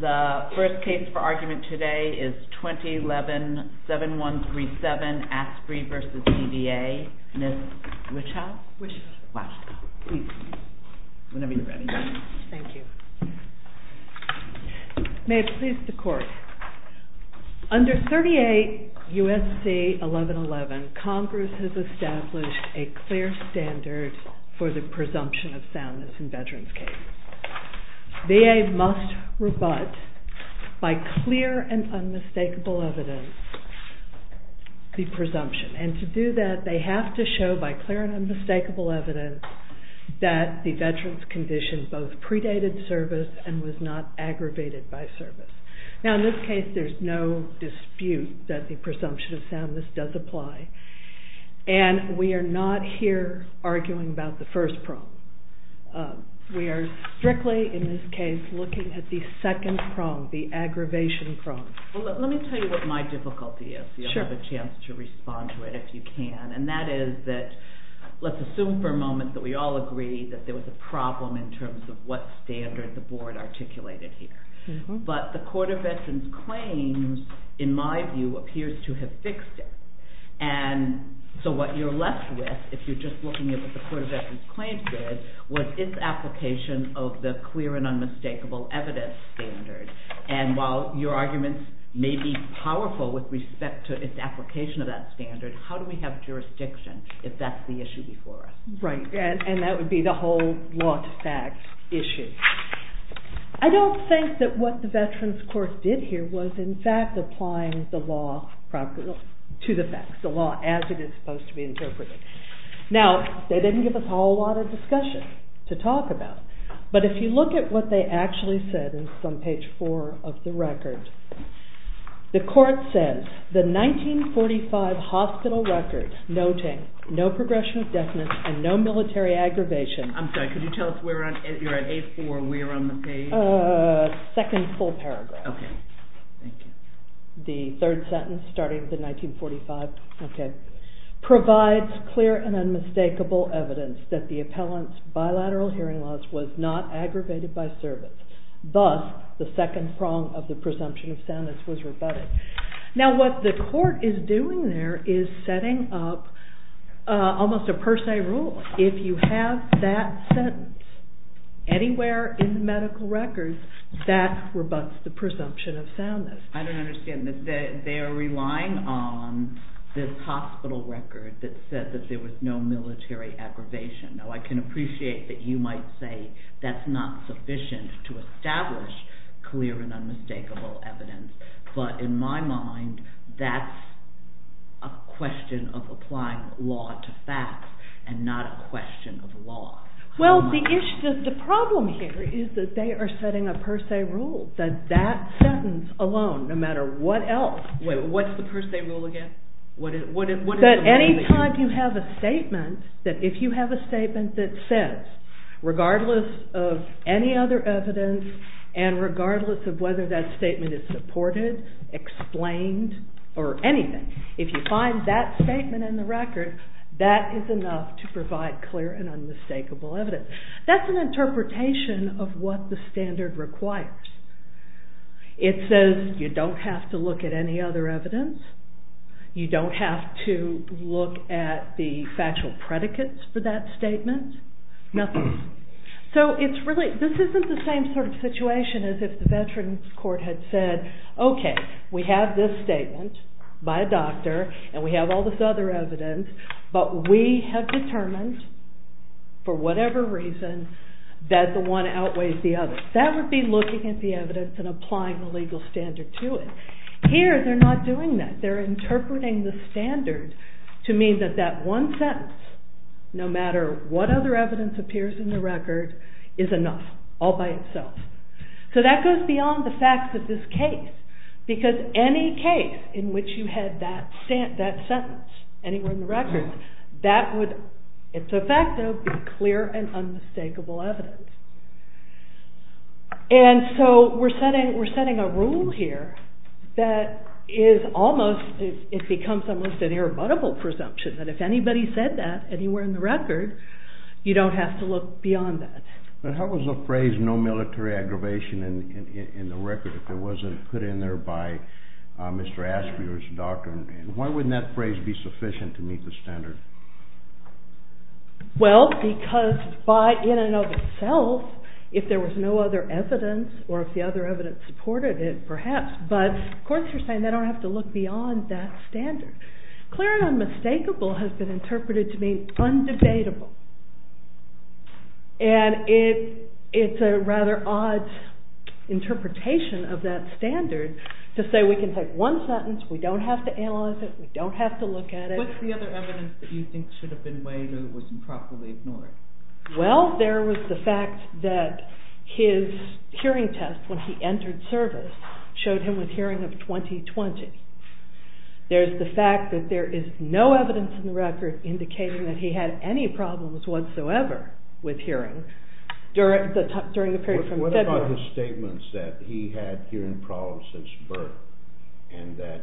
The first case for argument today is 2011-7137 ASPRY v. DVA. Ms. Wichow? Wichow. Wow. Please, whenever you're ready. Thank you. May it please the Court. Under 38 U.S.C. 1111, Congress has established a clear standard for the presumption of soundness in veterans' cases. VA must rebut, by clear and unmistakable evidence, the presumption. And to do that, they have to show, by clear and unmistakable evidence, that the veteran's condition both predated service and was not aggravated by service. Now, in this case, there's no dispute that the presumption of soundness does apply. And we are not here arguing about the first prong. We are strictly, in this case, looking at the second prong, the aggravation prong. Well, let me tell you what my difficulty is. Sure. You'll have a chance to respond to it if you can. And that is that, let's assume for a moment that we all agree that there was a problem in terms of what standard the Board articulated here. But the Court of Veterans Claims, in my view, appears to have fixed it. And so what you're left with, if you're just looking at what the Court of Veterans Claims did, was its application of the clear and unmistakable evidence standard. And while your arguments may be powerful with respect to its application of that standard, how do we have jurisdiction if that's the issue before us? Right. And that would be the whole law-to-fact issue. I don't think that what the Veterans Court did here was, in fact, applying the law to the facts, the law as it is supposed to be interpreted. Now, they didn't give us a whole lot of discussion to talk about. But if you look at what they actually said on page four of the record, the Court says, The 1945 hospital record noting no progression of deafness and no military aggravation... I'm sorry, could you tell us where on page four we are on the page? Second full paragraph. Okay. Thank you. The third sentence, starting with the 1945. Okay. Provides clear and unmistakable evidence that the appellant's bilateral hearing loss was not aggravated by service. Thus, the second prong of the presumption of soundness was rebutted. Now, what the Court is doing there is setting up almost a per se rule. If you have that sentence anywhere in the medical record, that rebuts the presumption of soundness. I don't understand this. They are relying on this hospital record that said that there was no military aggravation. Now, I can appreciate that you might say that's not sufficient to establish clear and unmistakable evidence. But in my mind, that's a question of applying law to facts and not a question of law. Well, the issue, the problem here is that they are setting a per se rule. That that sentence alone, no matter what else... What's the per se rule again? That any time you have a statement, that if you have a statement that says, regardless of any other evidence and regardless of whether that statement is supported, explained, or anything, if you find that statement in the record, that is enough to provide clear and unmistakable evidence. That's an interpretation of what the standard requires. It says you don't have to look at any other evidence. You don't have to look at the factual predicates for that statement. This isn't the same sort of situation as if the Veterans Court had said, okay, we have this statement by a doctor and we have all this other evidence, but we have determined for whatever reason that the one outweighs the other. That would be looking at the evidence and applying the legal standard to it. Here, they are not doing that. They are interpreting the standard to mean that that one sentence, no matter what other evidence appears in the record, is enough all by itself. So that goes beyond the facts of this case, because any case in which you had that sentence anywhere in the record, that would, if effective, be clear and unmistakable evidence. And so we're setting a rule here that it becomes almost an irrebuttable presumption that if anybody said that anywhere in the record, you don't have to look beyond that. But how was the phrase no military aggravation in the record if it wasn't put in there by Mr. Ashby or his doctor? Why wouldn't that phrase be sufficient to meet the standard? Well, because by in and of itself, if there was no other evidence, or if the other evidence supported it, perhaps, but courts are saying they don't have to look beyond that standard. Clear and unmistakable has been interpreted to mean undebatable. And it's a rather odd interpretation of that standard to say we can take one sentence, we don't have to analyze it, we don't have to look at it. What's the other evidence that you think should have been weighed or was improperly ignored? Well, there was the fact that his hearing test when he entered service showed him with hearing of 20-20. There's the fact that there is no evidence in the record indicating that he had any problems whatsoever with hearing during the period from February. What about his statements that he had hearing problems since birth and the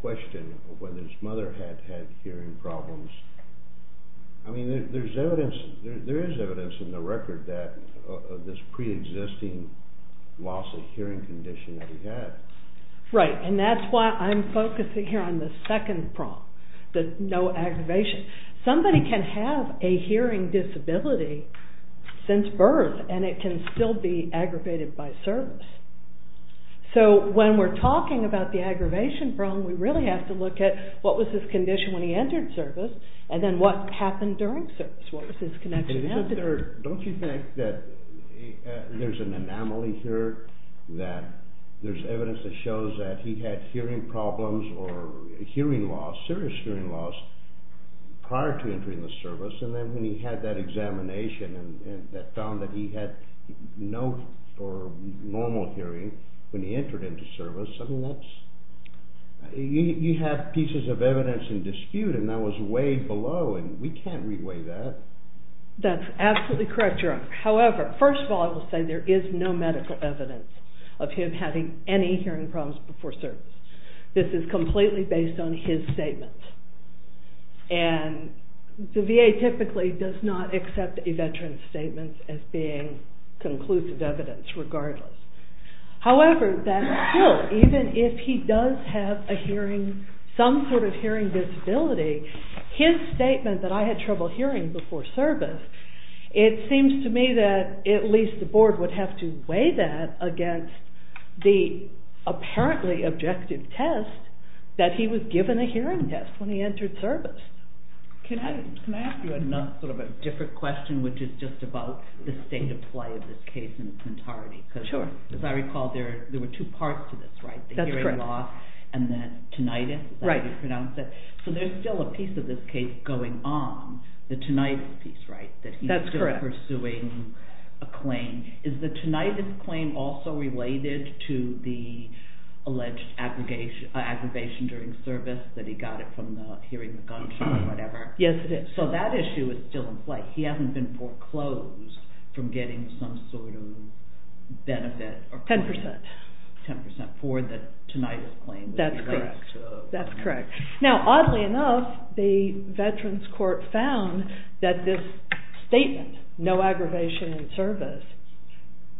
question of whether his mother had had hearing problems? I mean, there is evidence in the record that this pre-existing loss of hearing condition that he had. Right, and that's why I'm focusing here on the second prong, the no aggravation. Somebody can have a hearing disability since birth and it can still be aggravated by service. So when we're talking about the aggravation prong, we really have to look at what was his condition when he entered service and then what happened during service. What was his connection after that? Don't you think that there's an anomaly here that there's evidence that shows that he had hearing problems or hearing loss, serious hearing loss, prior to entering the service and then when he had that examination and found that he had no normal hearing when he entered into service, I mean, you have pieces of evidence in dispute and that was weighed below and we can't re-weigh that. That's absolutely correct, Your Honor. However, first of all, I will say there is no medical evidence of him having any hearing problems before service. This is completely based on his statements. And the VA typically does not accept a veteran's statements as being conclusive evidence, regardless. However, that still, even if he does have a hearing, some sort of hearing disability, his statement that I had trouble hearing before service, it seems to me that at least the board would have to weigh that against the apparently objective test that he was given a hearing test when he entered service. Can I ask you sort of a different question, which is just about the state of play of this case in its entirety? Sure. Because as I recall, there were two parts to this, right? That's correct. The hearing loss and then tinnitus. Right. So there's still a piece of this case going on, the tinnitus piece, right? That's correct. That he's still pursuing a claim. Is the tinnitus claim also related to the alleged aggravation during service that he got it from hearing the gunshot or whatever? Yes, it is. So that issue is still in play. He hasn't been foreclosed from getting some sort of benefit or claim. Ten percent. Ten percent for the tinnitus claim. That's correct. That's correct. Now, oddly enough, the Veterans Court found that this statement, no aggravation in service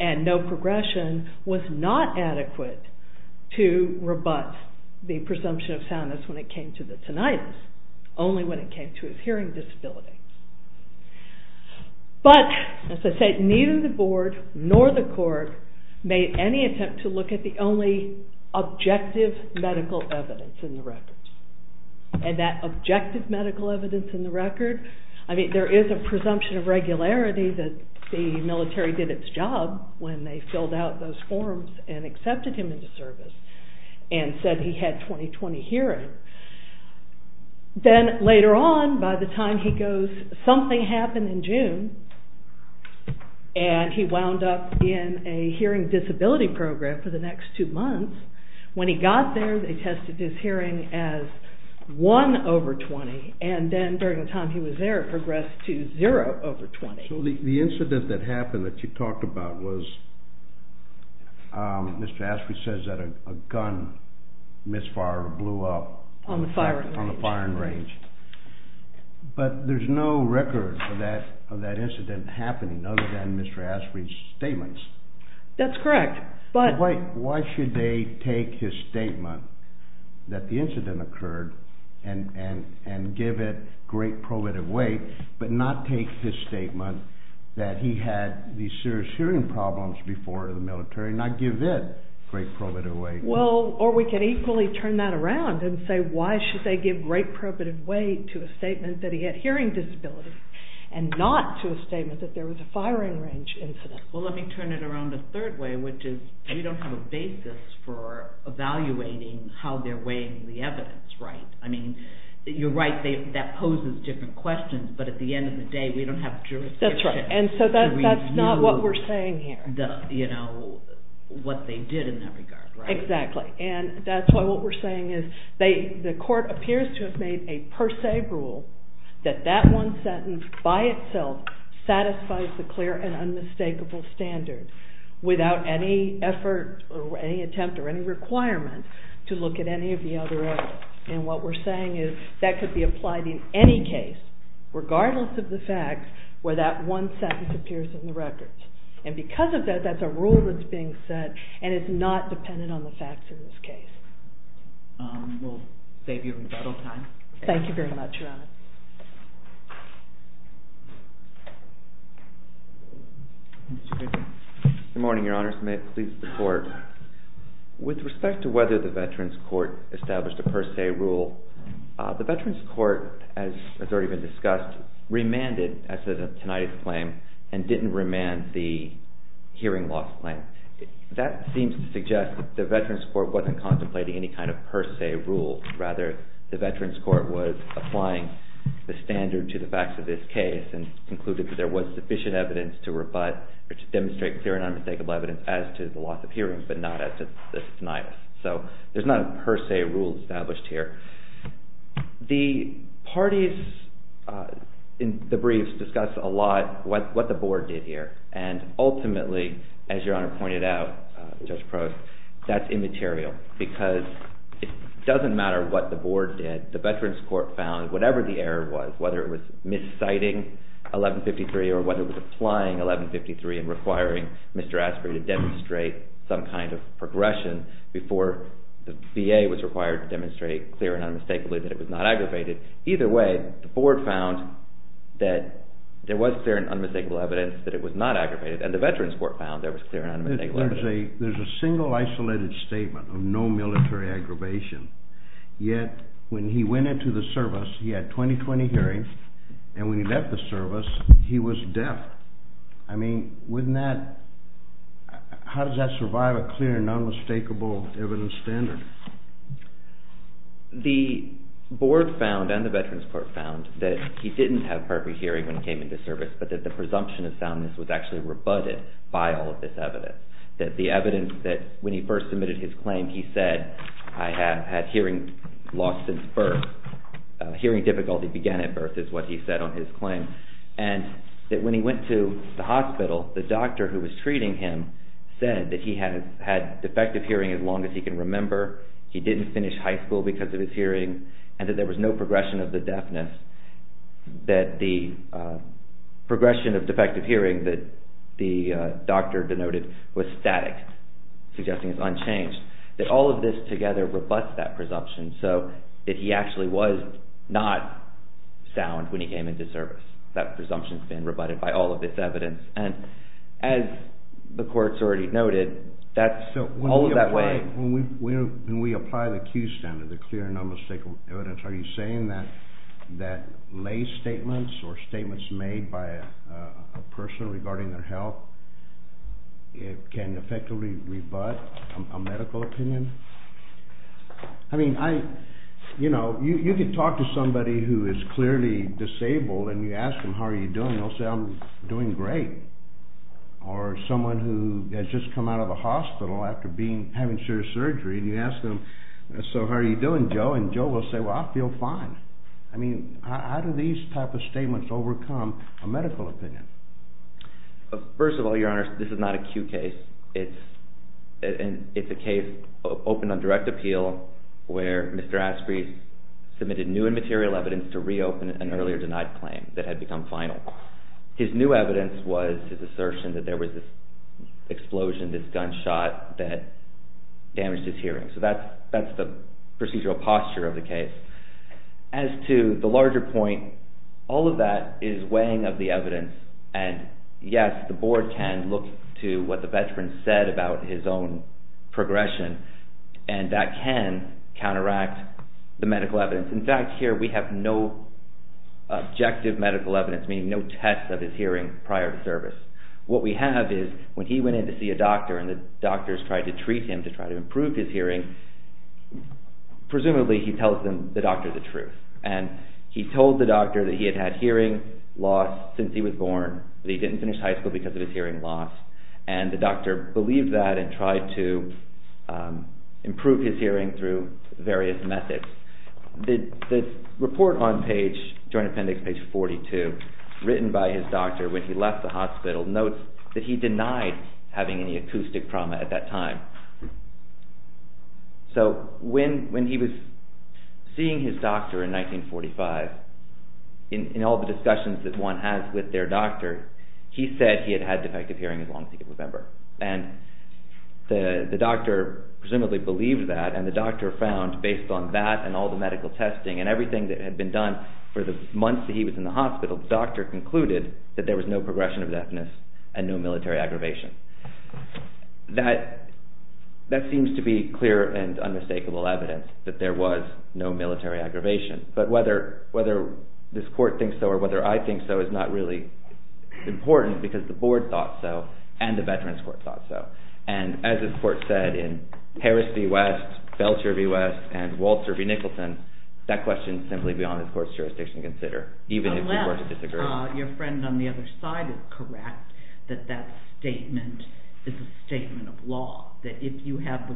and no progression, was not adequate to rebut the presumption of soundness when it came to the tinnitus, only when it came to his hearing disability. But, as I said, neither the board nor the court made any attempt to look at the only objective medical evidence in the records. And that objective medical evidence in the record, I mean, there is a presumption of regularity that the military did its job when they filled out those forms and accepted him into service and said he had 20-20 hearing. Then, later on, by the time he goes, something happened in June, and he wound up in a hearing disability program for the next two months. When he got there, they tested his hearing as 1 over 20. And then, during the time he was there, it progressed to 0 over 20. So the incident that happened that you talked about was, Mr. Ashby says that a gun misfire blew up on the firing range. But there's no record of that incident happening other than Mr. Ashby's statements. That's correct. Why should they take his statement that the incident occurred and give it great probative weight, but not take his statement that he had these serious hearing problems before the military and not give it great probative weight? Or we could equally turn that around and say, why should they give great probative weight to a statement that he had hearing disability and not to a statement that there was a firing range incident? Well, let me turn it around a third way, which is we don't have a basis for evaluating how they're weighing the evidence, right? You're right, that poses different questions. But at the end of the day, we don't have jurisdiction to review what they did in that regard, right? Exactly. And that's why what we're saying is the court appears to have made a per se rule that that one sentence by itself satisfies the clear and unmistakable standard without any effort or any attempt or any requirement to look at any of the other evidence. And what we're saying is that could be applied in any case, regardless of the facts, where that one sentence appears in the records. And because of that, that's a rule that's being set, and it's not dependent on the facts in this case. We'll save you rebuttal time. Thank you very much, Your Honor. Good morning, Your Honors. May it please the Court. With respect to whether the Veterans Court established a per se rule, the Veterans Court, as has already been discussed, remanded, as of tonight's claim, and didn't remand the hearing loss claim. That seems to suggest that the Veterans Court wasn't contemplating any kind of per se rule. Rather, the Veterans Court was applying the standard to the facts of this case and concluded that there was sufficient evidence to rebut or to demonstrate clear and unmistakable evidence as to the loss of hearings, but not as to this denial. So there's not a per se rule established here. The parties in the briefs discuss a lot what the Board did here, and ultimately, as Your Honor pointed out, Judge Prost, that's immaterial because it doesn't matter what the Board did. The Veterans Court found whatever the error was, whether it was misciting 1153 or whether it was applying 1153 and requiring Mr. Asprey to demonstrate some kind of progression before the VA was required to demonstrate clear and unmistakably that it was not aggravated. Either way, the Board found that there was clear and unmistakable evidence that it was not aggravated, and the Veterans Court found there was clear and unmistakable evidence. There's a single isolated statement of no military aggravation, yet when he went into the service he had 20-20 hearings, and when he left the service he was deaf. I mean, wouldn't that, how does that survive a clear and unmistakable evidence standard? The Board found, and the Veterans Court found, that he didn't have perfect hearing when he came into service, but that the presumption of soundness was actually rebutted by all of this evidence, that the evidence that when he first submitted his claim he said, I have had hearing loss since birth, hearing difficulty began at birth is what he said on his claim, and that when he went to the hospital, the doctor who was treating him said that he had had defective hearing as long as he can remember, he didn't finish high school because of his hearing, and that there was no progression of the deafness, that the progression of defective hearing that the doctor denoted was static, suggesting it's unchanged, that all of this together rebuts that presumption, so that he actually was not sound when he came into service. That presumption's been rebutted by all of this evidence, and as the court's already noted, that's all that way. So when we apply the Q standard, the clear and unmistakable evidence, are you saying that lay statements or statements made by a person regarding their health can effectively rebut a medical opinion? I mean, you could talk to somebody who is clearly disabled, and you ask them, how are you doing, and they'll say, I'm doing great. Or someone who has just come out of a hospital after having surgery, and Joe will say, well, I feel fine. I mean, how do these type of statements overcome a medical opinion? First of all, Your Honor, this is not a Q case. It's a case open on direct appeal where Mr. Asprey submitted new and material evidence to reopen an earlier denied claim that had become final. His new evidence was his assertion that there was this explosion, this gunshot, that damaged his hearing. So that's the procedural posture of the case. As to the larger point, all of that is weighing of the evidence, and yes, the board can look to what the veteran said about his own progression, and that can counteract the medical evidence. In fact, here we have no objective medical evidence, meaning no tests of his hearing prior to service. What we have is when he went in to see a doctor, and the doctors tried to treat him to try to improve his hearing, presumably he tells them, the doctor, the truth. And he told the doctor that he had had hearing loss since he was born, that he didn't finish high school because of his hearing loss, and the doctor believed that and tried to improve his hearing through various methods. The report on page, Joint Appendix page 42, written by his doctor when he left the hospital, notes that he denied having any acoustic trauma at that time. So when he was seeing his doctor in 1945, in all the discussions that one has with their doctor, he said he had had defective hearing as long as he could remember. And the doctor presumably believed that, and the doctor found, based on that and all the medical testing and everything that had been done for the months that he was in the hospital, the doctor concluded that there was no progression of deafness and no military aggravation. That seems to be clear and unmistakable evidence that there was no military aggravation. But whether this court thinks so or whether I think so is not really important because the board thought so and the Veterans Court thought so. And as this court said in Harris v. West, Felcher v. West, and Walter v. Nicholson, that question is simply beyond this court's jurisdiction to consider, even if we were to disagree. Unless your friend on the other side is correct that that statement is a statement of law, that if you have a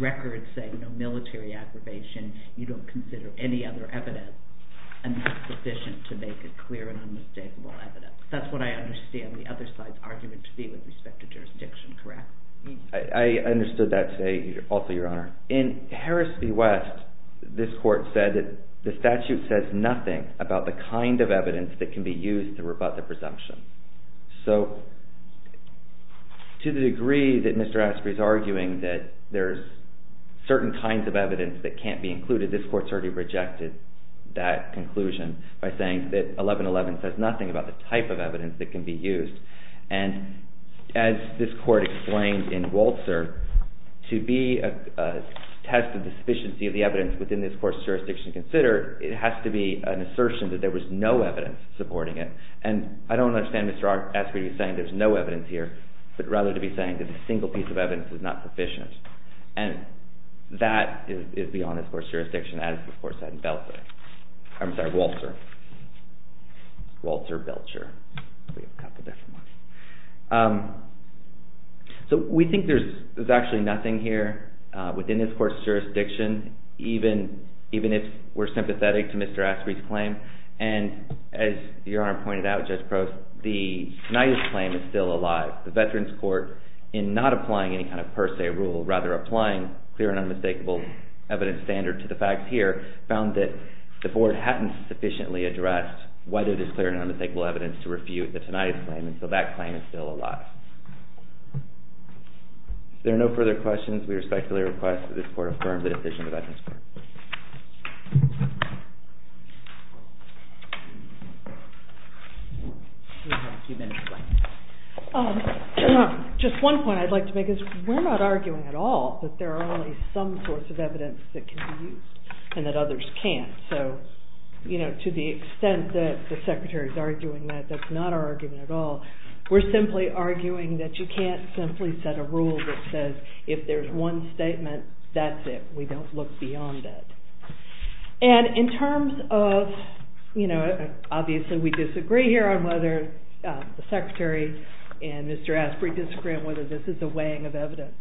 record saying no military aggravation, you don't consider any other evidence, and that's sufficient to make it clear and unmistakable evidence. That's what I understand the other side's argument to be with respect to jurisdiction, correct? I understood that today also, Your Honor. In Harris v. West, this court said that the statute says nothing about the kind of evidence that can be used to rebut the presumption. So to the degree that Mr. Asprey's arguing that there's certain kinds of evidence that can't be included, this court's already rejected that conclusion by saying that 1111 says nothing about the type of evidence that can be used. And as this court explained in Walter, to be a test of the sufficiency of the evidence within this court's jurisdiction to consider, it has to be an assertion that there was no evidence supporting it. And I don't understand Mr. Asprey saying there's no evidence here, but rather to be saying that a single piece of evidence was not sufficient. And that is beyond this court's jurisdiction as the court said in Walter. Walter Belcher. So we think there's actually nothing here within this court's jurisdiction even if we're sympathetic to Mr. Asprey's claim. And as Your Honor pointed out, Judge Crouse, the tonight's claim is still alive. The Veterans Court, in not applying any kind of per se rule, rather applying clear and unmistakable evidence standard to the facts here, found that the board hadn't sufficiently addressed whether there's clear and unmistakable evidence to refute the tonight's claim, and so that claim is still alive. If there are no further questions, we respectfully request that this court affirm the decision of the Veterans Court. Just one point I'd like to make is we're not arguing at all that there are only some sorts of evidence that can be used and that others can't. So to the extent that the Secretary's arguing that, that's not our argument at all. We're simply arguing that you can't simply set a rule that says if there's one statement, that's it. We don't look beyond that. And in terms of, you know, obviously we disagree here on whether the Secretary and Mr. Asprey disagree on whether this is a weighing of evidence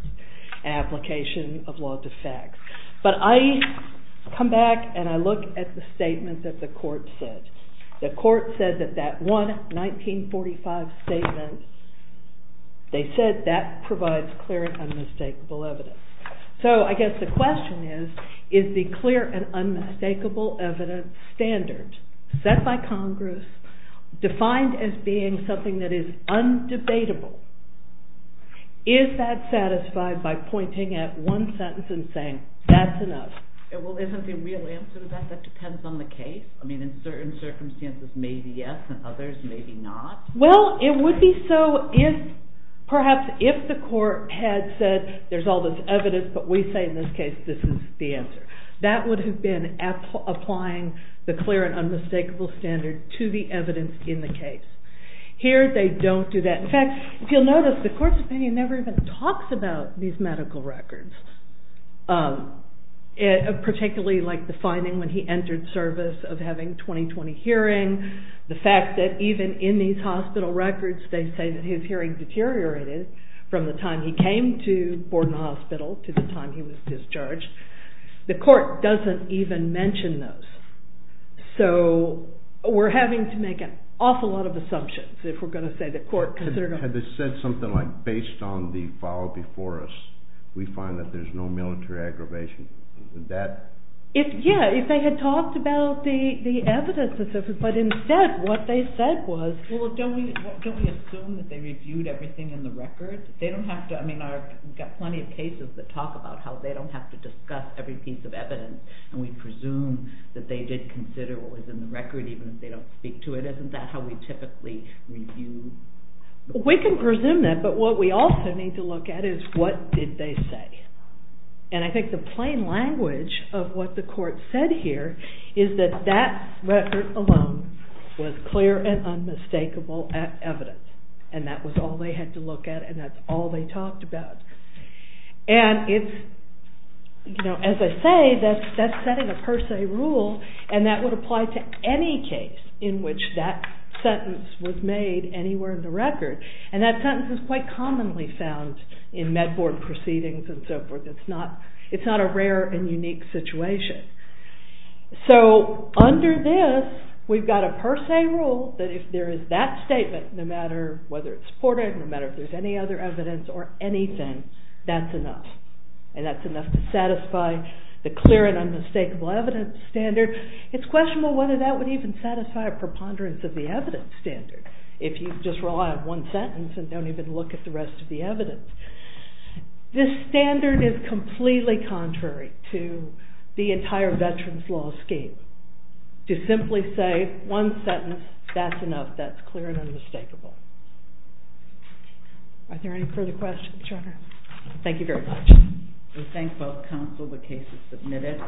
application of law to facts. But I come back and I look at the statement that the court said. The court said that that one 1945 statement, they said that provides clear and unmistakable evidence. So I guess the question is, is the clear and unmistakable evidence standard set by Congress defined as being something that is undebatable, is that satisfied by pointing at one sentence and saying that's enough? Well, isn't the real answer to that that depends on the case? I mean, in certain circumstances maybe yes, in others maybe not. Well, it would be so if, perhaps if the court had said there's all this evidence, but we say in this case this is the answer. That would have been applying the clear and unmistakable standard to the evidence in the case. Here they don't do that. In fact, if you'll notice, the court's opinion never even talks about these medical records. Particularly like the finding when he entered service of having 20-20 hearing, the fact that even in these hospital records they say that his hearing deteriorated from the time he came to Borden Hospital to the time he was discharged. The court doesn't even mention those. So, we're having to make an awful lot of assumptions if we're going to say the court considered... Had they said something like, based on the file before us, we find that there's no military aggravation, would that... Yeah, if they had talked about the evidence but instead what they said was... Well, don't we assume that they reviewed everything in the records? They don't have to... I mean, we've got plenty of cases that talk about how they don't have to discuss every piece of evidence and we presume that they did consider what was in the record even if they don't speak to it. Isn't that how we typically review... We can presume that, but what we also need to look at is what did they say? And I think the plain language of what the court said here is that that record alone was clear and unmistakable evidence and that was all they had to look at and that's all they talked about. And it's... You know, as I say, that's setting a per se rule and that would apply to any case in which that sentence was made anywhere in the record and that sentence is quite commonly found in Med Board proceedings and so forth. It's not a rare and unique situation. So, under this, we've got a per se rule that if there is that statement, no matter whether it's supported, no matter if there's any other evidence or anything, that's enough. And that's enough to satisfy the clear and unmistakable evidence standard. It's questionable whether that would even satisfy a preponderance of the evidence standard if you just rely on one sentence and don't even look at the rest of the evidence. This standard is completely contrary to the entire Veterans Law scheme. To simply say one sentence, that's enough. That's clear and unmistakable. Are there any further questions, Your Honor? Thank you very much. We thank both counsel. The case is submitted.